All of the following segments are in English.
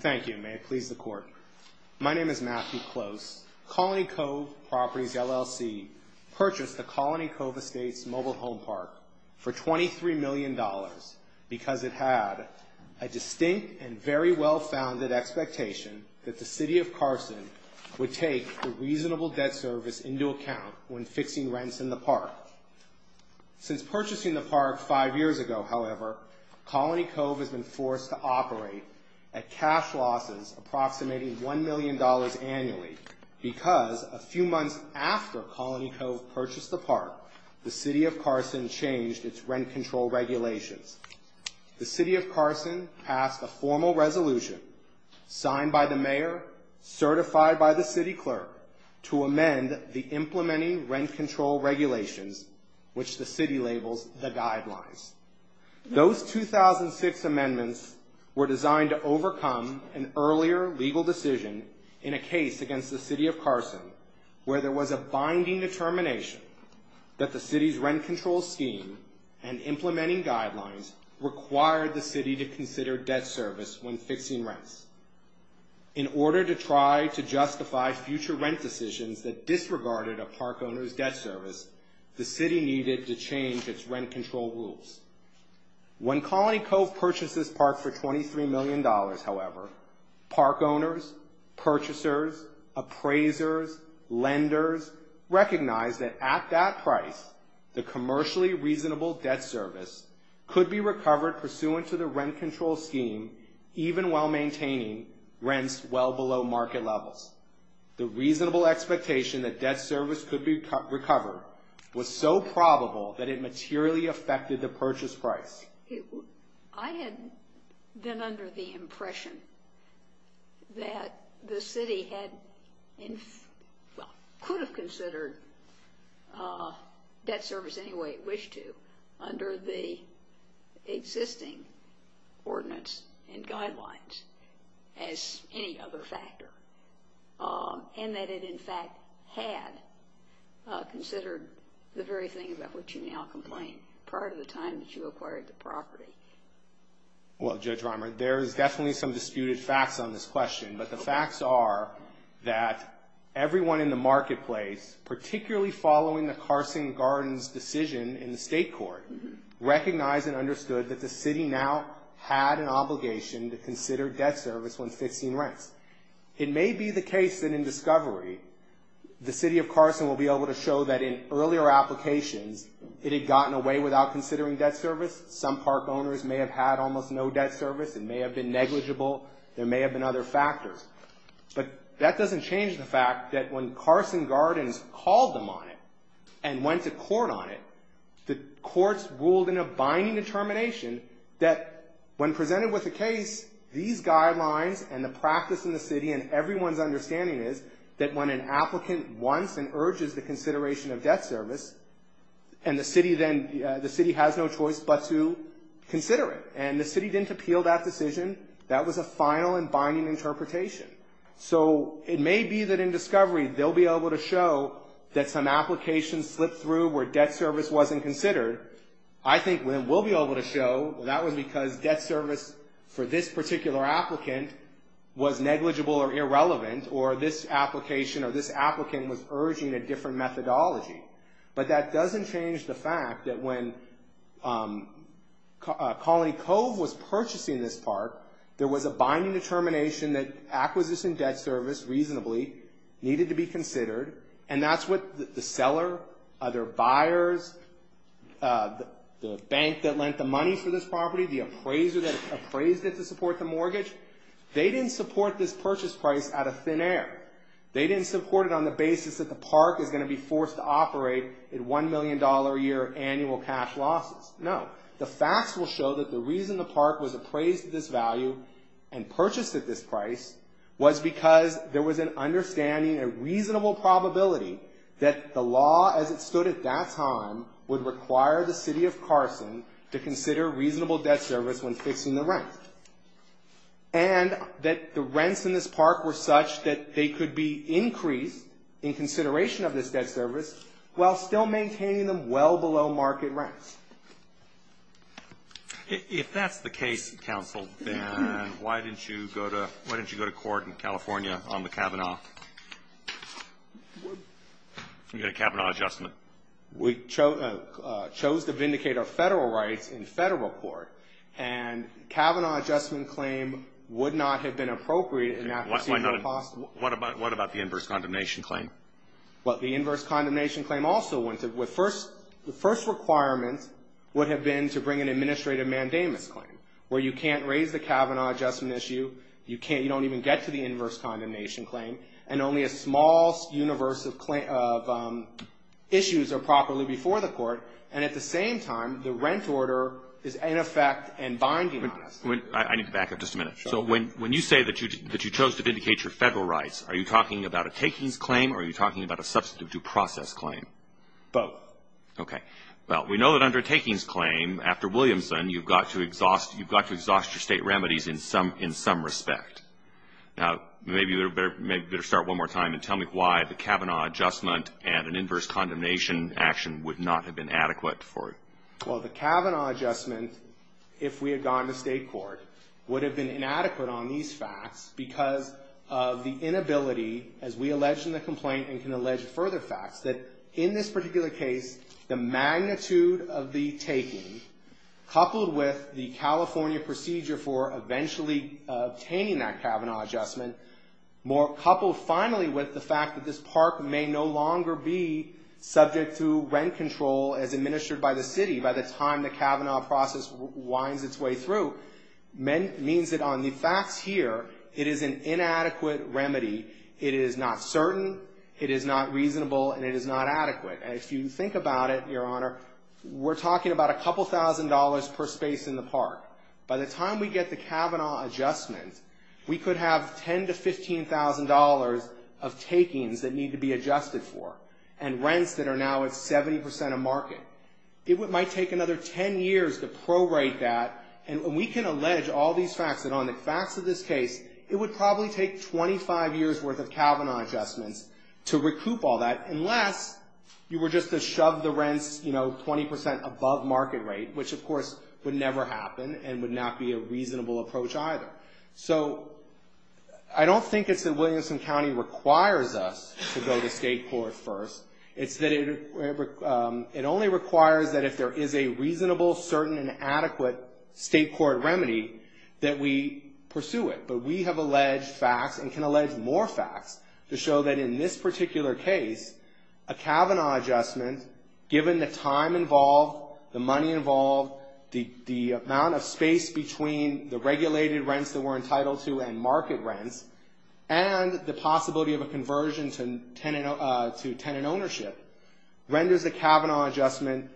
Thank you, may it please the court. My name is Matthew Close. Colony Cove Properties, LLC purchased the Colony Cove Estates mobile home park for $23 million because it had a distinct and very well-founded expectation that the City of Carson would take the reasonable debt service into account when fixing rents in the park. Since purchasing the park five years ago, however, Colony Cove has been forced to operate at cash losses, approximating $1 million annually, because a few months after Colony Cove purchased the park, the City of Carson changed its rent control regulations. The City of Carson passed a formal resolution signed by the Mayor, certified by the City Clerk, to amend the implementing rent control regulations, which the City labels the guidelines. Those 2006 amendments were designed to overcome an earlier legal decision in a case against the City of Carson where there was a binding determination that the City's rent control scheme and implementing guidelines required the City to consider debt service when fixing rents. In order to try to justify future rent decisions that disregarded a park owner's debt service, the City needed to change its rent control rules. When Colony Cove purchased this park for $23 million, however, park owners, purchasers, appraisers, lenders recognized that at that price, the commercially reasonable debt service could be recovered pursuant to the rent control scheme, even while maintaining rents well below market levels. The reasonable expectation that debt service could be recovered was so probable that it materially affected the purchase price. I had been under the impression that the City could have considered debt service any way it wished to under the existing ordinance and guidelines as any other factor, and that it in fact had considered the very thing about which you now complain prior to the time that you acquired the park. Well, Judge Reimer, there is definitely some disputed facts on this question, but the facts are that everyone in the marketplace, particularly following the Carson Gardens decision in the state court, recognized and understood that the City now had an obligation to consider debt service when fixing rents. It may be the case that in discovery, the City of Carson will be able to show that in earlier applications, it had gotten away without considering debt service. Some park owners may have had almost no debt service. It may have been negligible. There may have been other factors. But that doesn't change the fact that when Carson Gardens called them on it and went to court on it, the courts ruled in a binding determination that when presented with a case, these guidelines and the practice in the City and everyone's understanding is that when an applicant wants and urges the consideration of debt service, and the City has no choice but to consider it, and the City didn't appeal that decision, that was a final and binding interpretation. So it may be that in discovery, they'll be able to show that some applications slipped through where debt service wasn't considered. I think we'll be able to show that was because debt service for this particular applicant was negligible or irrelevant, or this application or this applicant was urging a different methodology. But that doesn't change the fact that when Colony Cove was purchasing this park, there was a binding determination that acquisition debt service reasonably needed to be considered, and that's what the seller, other buyers, the bank that lent the money for this property, the appraiser that appraised it to support the mortgage, they didn't support this purchase price out of thin air. They didn't support it on the basis that the park is going to be forced to operate at $1 million a year annual cash losses. No. The facts will show that the reason the park was appraised at this value and purchased at this price was because there was an understanding, a reasonable probability that the law as it stood at that time would require the City of Carson to consider reasonable debt service when fixing the rent. And that the rents in this park were such that they could be increased in consideration of this debt service while still maintaining them well below market rents. If that's the case, counsel, then why didn't you go to court in California on the Kavanaugh adjustment? We chose to vindicate our federal rights in federal court, and Kavanaugh adjustment claim would not have been appropriate. What about the inverse condemnation claim? Well, the inverse condemnation claim also went to, the first requirement would have been to bring an administrative mandamus claim, where you can't raise the Kavanaugh adjustment issue, you don't even get to the inverse condemnation claim, and only a small universe of issues are properly before the court, and at the same time, the rent order is in effect and binding on us. I need to back up just a minute. So when you say that you chose to vindicate your federal rights, are you talking about a takings claim or are you talking about a substantive due process claim? Both. Okay. Well, we know that under a takings claim, after Williamson, you've got to exhaust your state remedies in some respect. Now, maybe you better start one more time and tell me why the Kavanaugh adjustment and an inverse condemnation action would not have been adequate for it. Well, the Kavanaugh adjustment, if we had gone to state court, would have been inadequate on these facts because of the inability, as we alleged in the complaint and can allege further facts, that in this particular case, the magnitude of the taking, coupled with the California procedure for eventually obtaining that Kavanaugh adjustment, coupled finally with the fact that this park may no longer be subject to rent control as administered by the city by the time the Kavanaugh process winds its way through, means that on the facts here, it is an inadequate remedy. It is not certain, it is not reasonable, and it is not adequate. And if you think about it, Your Honor, we're talking about a couple thousand dollars per space in the park. By the time we get the Kavanaugh adjustment, we could have $10,000 to $15,000 of takings that need to be adjusted for and rents that are now at 70% of market. It might take another 10 years to prorate that, and we can allege all these facts that on the facts of this case, it would probably take 25 years' worth of Kavanaugh adjustments to recoup all that, and would not be a reasonable approach either. So I don't think it's that Williamson County requires us to go to state court first. It's that it only requires that if there is a reasonable, certain, and adequate state court remedy, that we pursue it. But we have alleged facts and can allege more facts to show that in this particular case, a Kavanaugh adjustment, given the time involved, the money involved, the amount of space between the regulated rents that we're entitled to and market rents, and the possibility of a conversion to tenant ownership, renders the Kavanaugh adjustment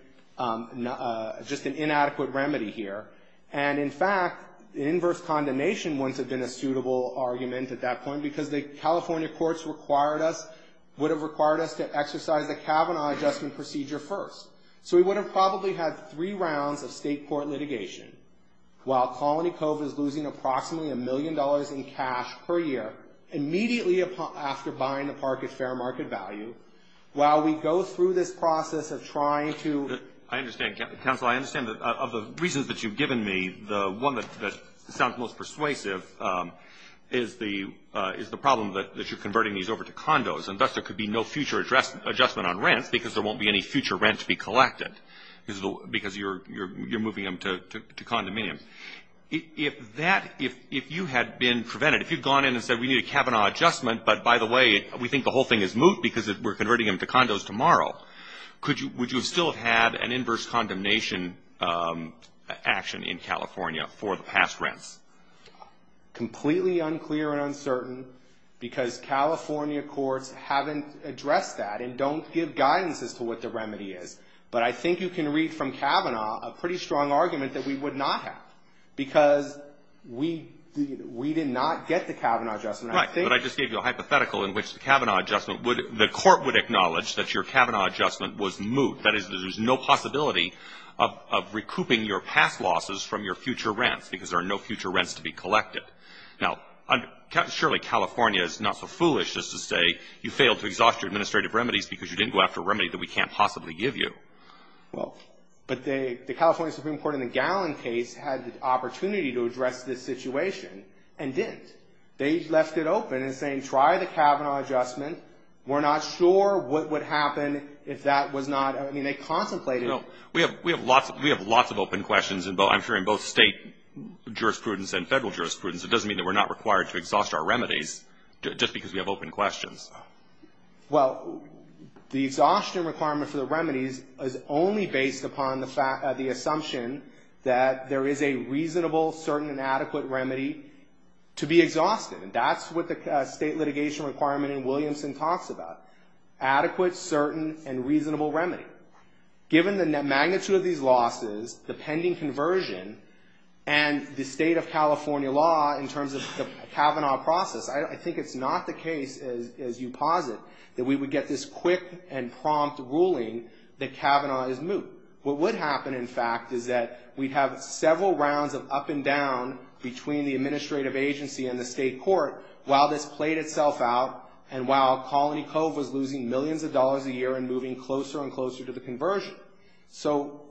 just an inadequate remedy here. And, in fact, the inverse condemnation wouldn't have been a suitable argument at that point because the California courts would have required us to exercise the Kavanaugh adjustment procedure first. So we would have probably had three rounds of state court litigation, while Colony Cove is losing approximately a million dollars in cash per year, immediately after buying the park at fair market value, while we go through this process of trying to- Roberts. I understand, counsel. I understand that of the reasons that you've given me, the one that sounds most persuasive is the problem that you're converting these over to condos. And thus there could be no future adjustment on rents because there won't be any future rent to be collected because you're moving them to condominiums. If that, if you had been prevented, if you'd gone in and said we need a Kavanaugh adjustment, but, by the way, we think the whole thing is moot because we're converting them to condos tomorrow, would you still have had an inverse condemnation action in California for the past rents? Completely unclear and uncertain because California courts haven't addressed that and don't give guidance as to what the remedy is. But I think you can read from Kavanaugh a pretty strong argument that we would not have because we did not get the Kavanaugh adjustment. Right, but I just gave you a hypothetical in which the Kavanaugh adjustment would, the court would acknowledge that your Kavanaugh adjustment was moot. That is, there's no possibility of recouping your past losses from your future rents because there are no future rents to be collected. Now, surely California is not so foolish as to say you failed to exhaust your administrative remedies because you didn't go after a remedy that we can't possibly give you. Well, but the California Supreme Court in the Gallin case had the opportunity to address this situation and didn't. They left it open in saying try the Kavanaugh adjustment. We're not sure what would happen if that was not, I mean, they contemplated. We have lots of open questions, I'm sure, in both state jurisprudence and federal jurisprudence. It doesn't mean that we're not required to exhaust our remedies just because we have open questions. Well, the exhaustion requirement for the remedies is only based upon the assumption that there is a reasonable, certain, and adequate remedy to be exhausted. And that's what the state litigation requirement in Williamson talks about, adequate, certain, and reasonable remedy. Given the magnitude of these losses, the pending conversion, and the state of California law in terms of the Kavanaugh process, I think it's not the case, as you posit, that we would get this quick and prompt ruling that Kavanaugh is moot. What would happen, in fact, is that we'd have several rounds of up and down between the administrative agency and the state court while this played itself out and while Colony Cove was losing millions of dollars a year and moving closer and closer to the conversion. So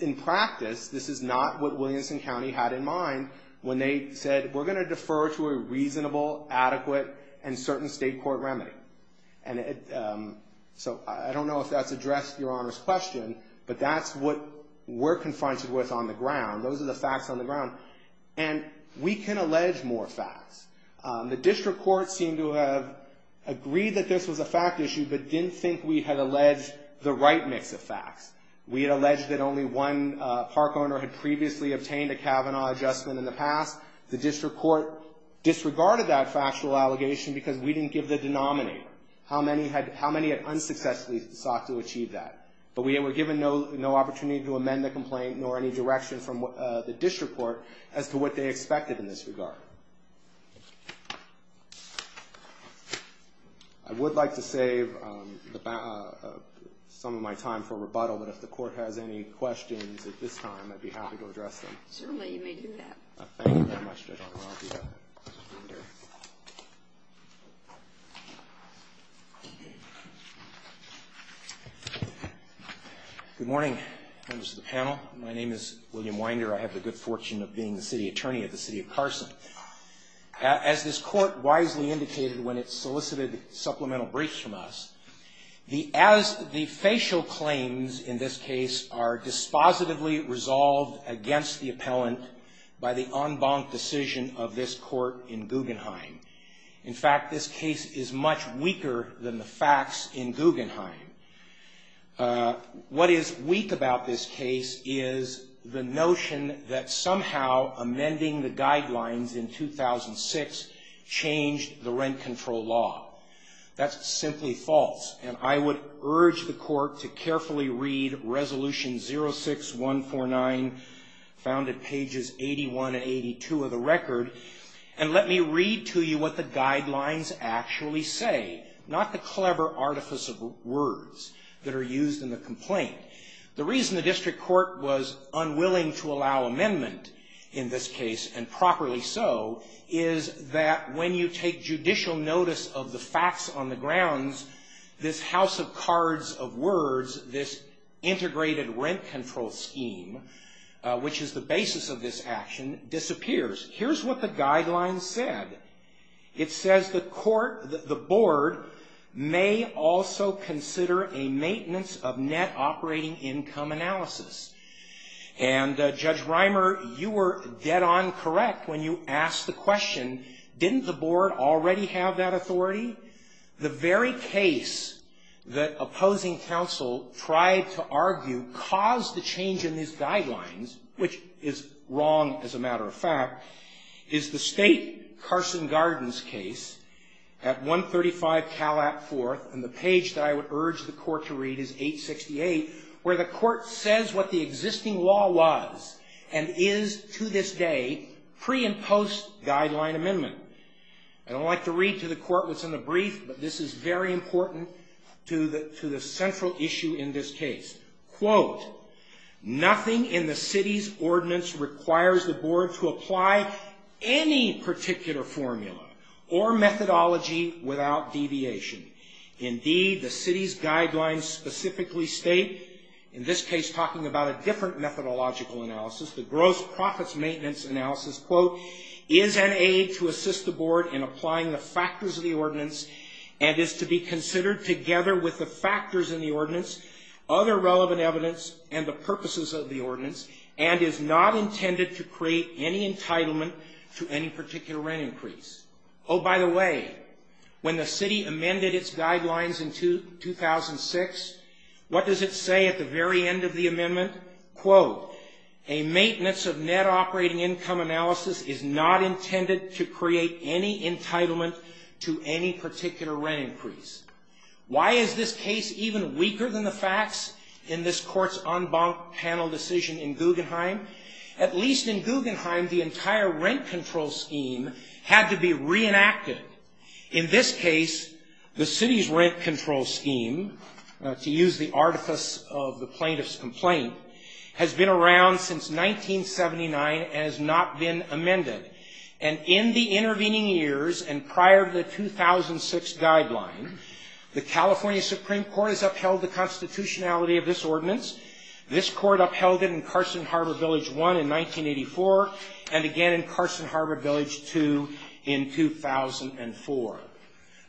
in practice, this is not what Williamson County had in mind when they said we're going to defer to a reasonable, adequate, and certain state court remedy. And so I don't know if that's addressed Your Honor's question, but that's what we're confronted with on the ground. Those are the facts on the ground. And we can allege more facts. The district court seemed to have agreed that this was a fact issue but didn't think we had alleged the right mix of facts. We had alleged that only one park owner had previously obtained a Kavanaugh adjustment in the past. The district court disregarded that factual allegation because we didn't give the denominator, how many had unsuccessfully sought to achieve that. But we were given no opportunity to amend the complaint nor any direction from the district court as to what they expected in this regard. I would like to save some of my time for rebuttal, but if the court has any questions at this time, I'd be happy to address them. Certainly, you may do that. Thank you very much, Judge O'Connell. Good morning, members of the panel. My name is William Winder. I have the good fortune of being the city attorney of the city of Carson. As this court wisely indicated when it solicited supplemental briefs from us, as the facial claims in this case are dispositively by the en banc decision of this court in Guggenheim. In fact, this case is much weaker than the facts in Guggenheim. What is weak about this case is the notion that somehow amending the guidelines in 2006 changed the rent control law. That's simply false. And I would urge the court to carefully read Resolution 06-149, found at pages 81 and 82 of the record, and let me read to you what the guidelines actually say, not the clever artifice of words that are used in the complaint. The reason the district court was unwilling to allow amendment in this case, and properly so, is that when you take judicial notice of the facts on the grounds, this house of cards of words, this integrated rent control scheme, which is the basis of this action, disappears. Here's what the guidelines said. It says the court, the board, may also consider a maintenance of net operating income analysis. And, Judge Reimer, you were dead on correct when you asked the question, didn't the board already have that authority? The very case that opposing counsel tried to argue caused the change in these guidelines, which is wrong, as a matter of fact, is the State Carson law was, and is to this day, pre and post-guideline amendment. I don't like to read to the court what's in the brief, but this is very important to the central issue in this case. Quote, nothing in the city's ordinance requires the board to apply any particular formula or methodology without deviation. Indeed, the city's guidelines specifically state, in this case talking about a different methodological analysis, the gross profits maintenance analysis, quote, is an aid to assist the board in applying the factors of the ordinance, and is to be considered together with the factors in the ordinance, other relevant evidence, and the purposes of the ordinance, and is not intended to create any entitlement to any particular rent increase. Oh, by the way, when the city amended its guidelines in 2006, what does it say at the very end of the amendment? Quote, a maintenance of net operating income analysis is not intended to create any entitlement to any particular rent increase. Why is this case even weaker than the facts in this court's en banc panel decision in Guggenheim? At least in Guggenheim, the entire rent control scheme had to be reenacted. In this case, the city's rent control scheme, to use the artifice of the plaintiff's complaint, has been around since 1979 and has not been amended. And in the intervening years and prior to the 2006 guideline, the California Supreme Court has upheld the constitutionality of this ordinance. This court upheld it in Carson Harbor Village 1 in 1984, and again in Carson Harbor Village 2 in 2004.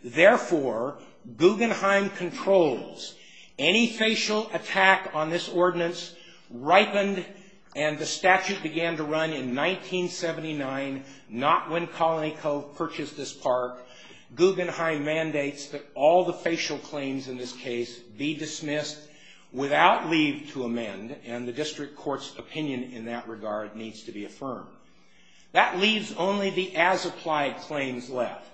Therefore, Guggenheim controls. Any facial attack on this ordinance ripened, and the statute began to run in 1979, not when Colony Cove purchased this park. Guggenheim mandates that all the facial claims in this case be dismissed without leave to amend, and the district court's opinion in that regard needs to be affirmed. That leaves only the as-applied claims left.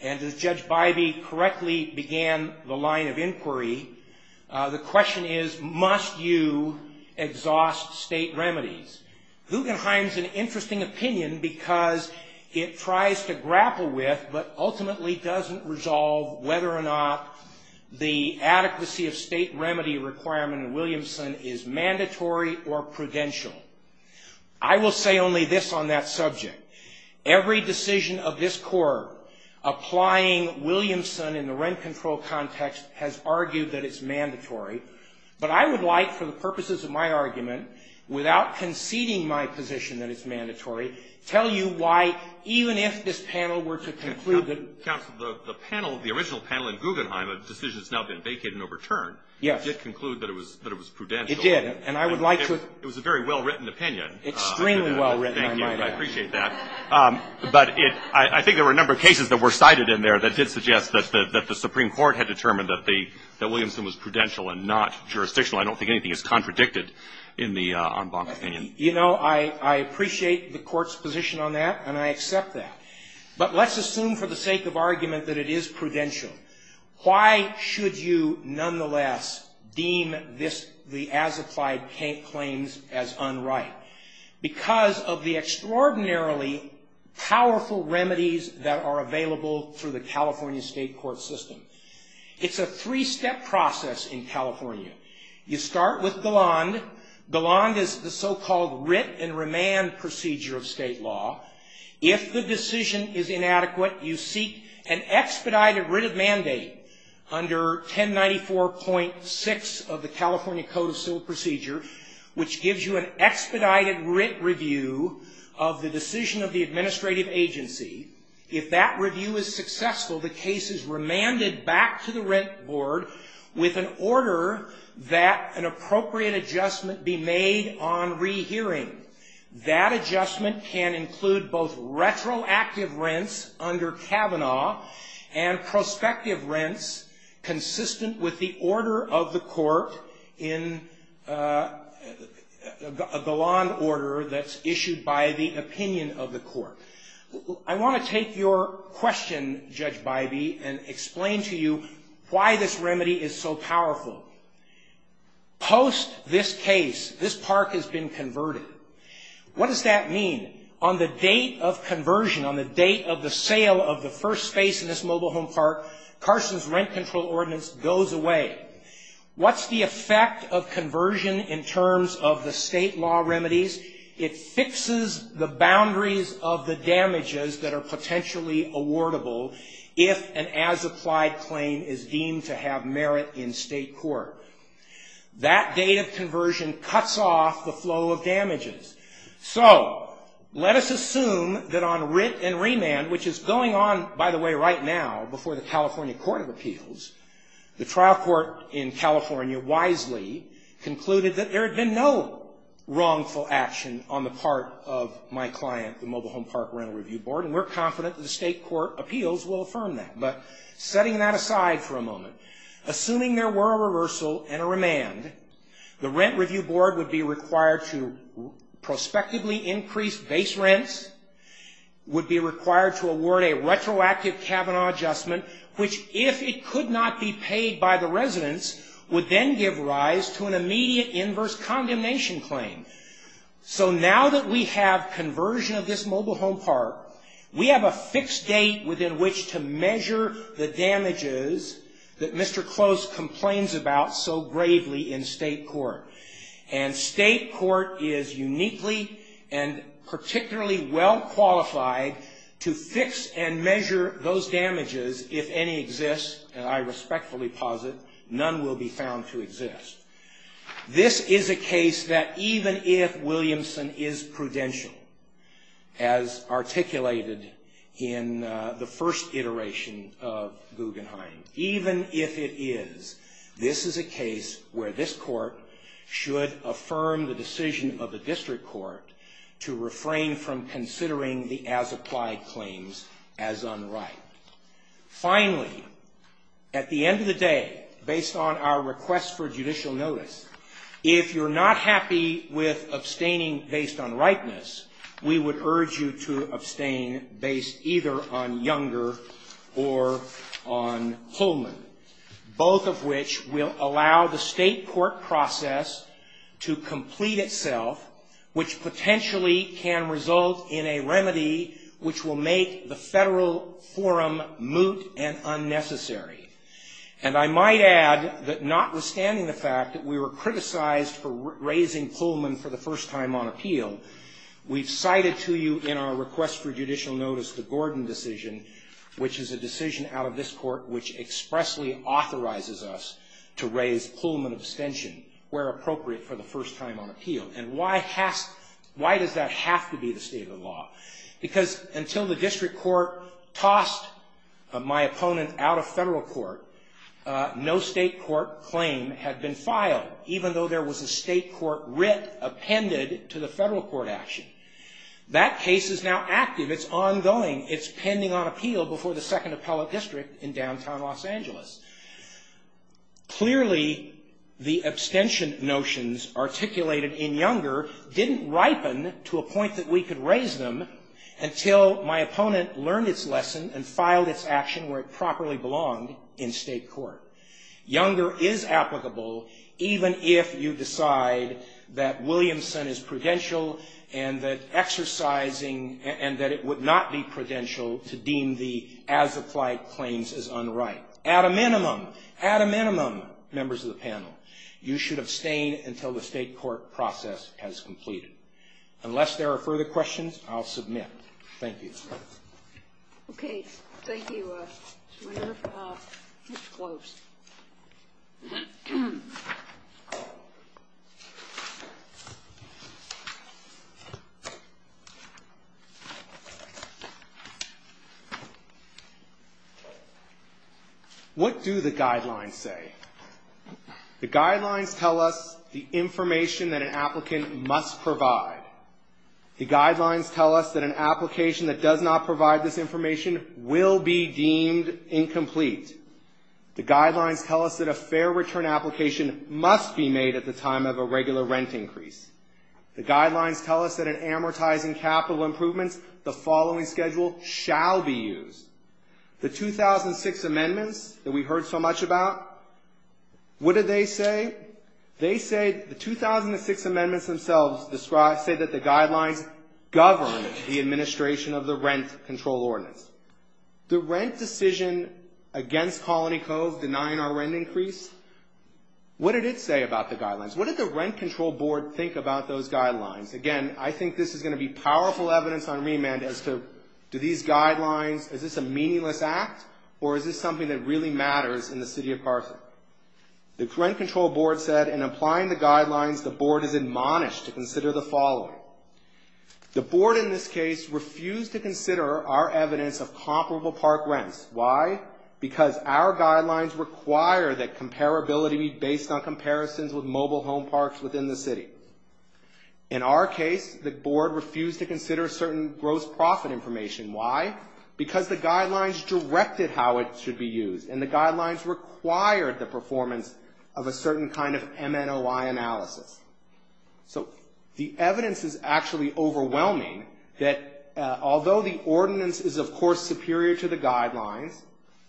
And as Judge Bybee correctly began the line of inquiry, the question is, must you exhaust state remedies? Guggenheim's an interesting opinion because it tries to grapple with but ultimately doesn't resolve whether or not the adequacy of state remedy requirement in Williamson is mandatory or prudential. I will say only this on that subject. Every decision of this court applying Williamson in the rent control context has argued that it's mandatory. But I would like, for the purposes of my argument, without conceding my position that it's mandatory, tell you why even if this panel were to conclude that the original panel in Guggenheim, a decision that's now been vacated and overturned, did conclude that it was prudential. It did. And I would like to — It was a very well-written opinion. Extremely well-written, I might add. Thank you. I appreciate that. But it — I think there were a number of cases that were cited in there that did suggest that the Supreme Court had determined that the — that Williamson was prudential and not jurisdictional. I don't think anything is contradicted in the en banc opinion. You know, I appreciate the Court's position on that, and I accept that. But let's assume for the sake of argument that it is prudential. Why should you nonetheless deem this — the as-applied claims as unright? Because of the extraordinarily powerful remedies that are available through the California state court system. It's a three-step process in California. You start with Galand. Galand is the so-called writ and remand procedure of state law. If the decision is inadequate, you seek an expedited writ of mandate under 1094.6 of the California Code of Civil Procedure, which gives you an expedited writ review of the decision of the administrative agency. If that review is successful, the case is remanded back to the rent board with an order that an appropriate adjustment be made on rehearing. That adjustment can include both retroactive rents under Kavanaugh and prospective rents consistent with the order of the court in Galand order that's issued by the opinion of the court. I want to take your question, Judge Bybee, and explain to you why this remedy is so powerful. Post this case, this park has been converted. What does that mean? On the date of conversion, on the date of the sale of the first space in this mobile home park, Carson's rent control ordinance goes away. What's the effect of conversion in terms of the state law remedies? It fixes the boundaries of the damages that are potentially awardable if an as-applied claim is deemed to have merit in state court. That date of conversion cuts off the flow of damages. So let us assume that on writ and remand, which is going on, by the way, right now before the California Court of Appeals, the trial court in California wisely concluded that there had been no wrongful action on the part of my client, the mobile home park rental review board. And we're confident that the state court appeals will affirm that. But setting that aside for a moment, assuming there were a reversal and a remand, the rent review board would be required to prospectively increase base rents, would be required to award a retroactive Kavanaugh adjustment, which if it could not be paid by the residents, would then give rise to an immediate inverse condemnation claim. So now that we have conversion of this mobile home park, we have a fixed date within which to measure the damages that Mr. Close complains about so gravely in state court. And state court is uniquely and particularly well qualified to fix and measure those damages if any exist. And I respectfully posit none will be found to exist. This is a case that even if Williamson is prudential, as articulated in the first iteration of Guggenheim, even if it is, this is a case where this court should affirm the decision of the district court to refrain from considering the as-applied claims as unright. Finally, at the end of the day, based on our request for judicial notice, if you're not happy with abstaining based on rightness, we would urge you to abstain based either on Younger or on Holman, both of which will allow the state court process to complete itself, which potentially can result in a remedy which will make the federal forum moot and unnecessary. And I might add that notwithstanding the fact that we were criticized for raising Pullman for the first time on appeal, we've cited to you in our request for judicial notice the Gordon decision, which is a decision out of this court which expressly authorizes us to raise Pullman abstention where appropriate for the first time on appeal. And why does that have to be the state of the law? Because until the district court tossed my opponent out of federal court, no state court claim had been filed, even though there was a state court writ appended to the federal court action. That case is now active. It's ongoing. It's pending on appeal before the second appellate district in downtown Los Angeles. Clearly, the abstention notions articulated in Younger didn't ripen to a point that we could raise them until my opponent learned its lesson and filed its action where it properly belonged in state court. Younger is applicable even if you decide that Williamson is prudential and that exercising and that it would not be prudential to deem the as-applied claims as unright. At a minimum, at a minimum, members of the panel, you should abstain until the state court process has completed. Unless there are further questions, I'll submit. Thank you. Okay. What do the guidelines say? The guidelines tell us the information that an applicant must provide. The guidelines tell us that an application that does not provide this information will be deemed incomplete. The guidelines tell us that a fair return application must be made at the time of a regular rent increase. The guidelines tell us that in amortizing capital improvements, the following schedule shall be used. The 2006 amendments that we heard so much about, what did they say? They say the 2006 amendments themselves say that the guidelines govern the administration of the rent control ordinance. The rent decision against Colony Cove denying our rent increase, what did it say about the guidelines? What did the rent control board think about those guidelines? Again, I think this is going to be powerful evidence on remand as to do these guidelines, is this a meaningless act or is this something that really matters in the city of Carson? The rent control board said in applying the guidelines, the board is admonished to consider the following. The board in this case refused to consider our evidence of comparable park rents. Why? Because our guidelines require that comparability be based on comparisons with mobile home parks within the city. In our case, the board refused to consider certain gross profit information. Why? Because the guidelines directed how it should be used and the guidelines required the performance of a certain kind of MNOI analysis. So the evidence is actually overwhelming that although the ordinance is of course superior to the guidelines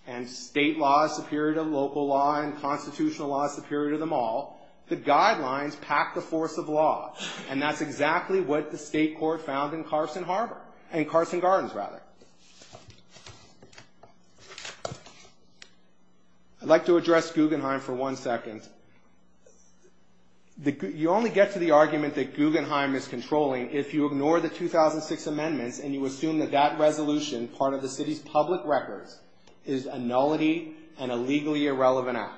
and state law is superior to local law and constitutional law is superior to them all, the guidelines pack the force of law. And that's exactly what the state court found in Carson Harbor, in Carson Gardens rather. I'd like to address Guggenheim for one second. You only get to the argument that Guggenheim is controlling if you ignore the 2006 amendments and you assume that that resolution, part of the city's public records, is a nullity and a legally irrelevant act.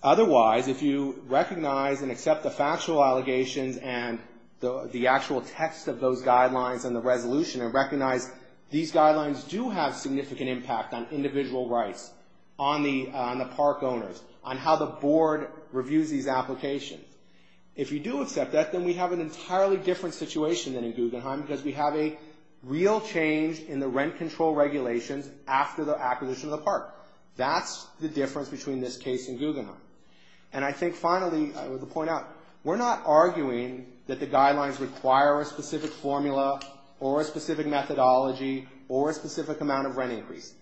Otherwise, if you recognize and accept the factual allegations and the actual text of those guidelines and the resolution and recognize these guidelines do have significant impact on individual rights, on the park owners, on how the board reviews these applications. If you do accept that, then we have an entirely different situation than in Guggenheim because we have a real change in the rent control regulations after the acquisition of the park. That's the difference between this case and Guggenheim. And I think finally, I want to point out, we're not arguing that the guidelines require a specific formula or a specific methodology or a specific amount of rent increase.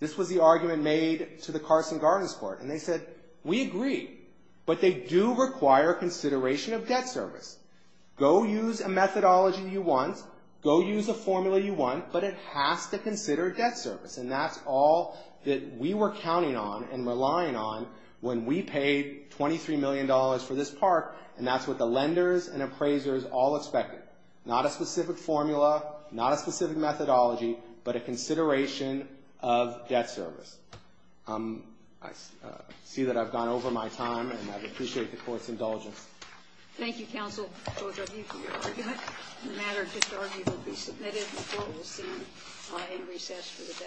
This was the argument made to the Carson Gardens court. And they said, we agree, but they do require consideration of debt service. Go use a methodology you want. Go use a formula you want. But it has to consider debt service. And that's all that we were counting on and relying on when we paid $23 million for this park, and that's what the lenders and appraisers all expected. Not a specific formula, not a specific methodology, but a consideration of debt service. I see that I've gone over my time, and I appreciate the court's indulgence. Thank you, counsel. The matter of disargument will be submitted. The court will see my recess for the day. Thank you.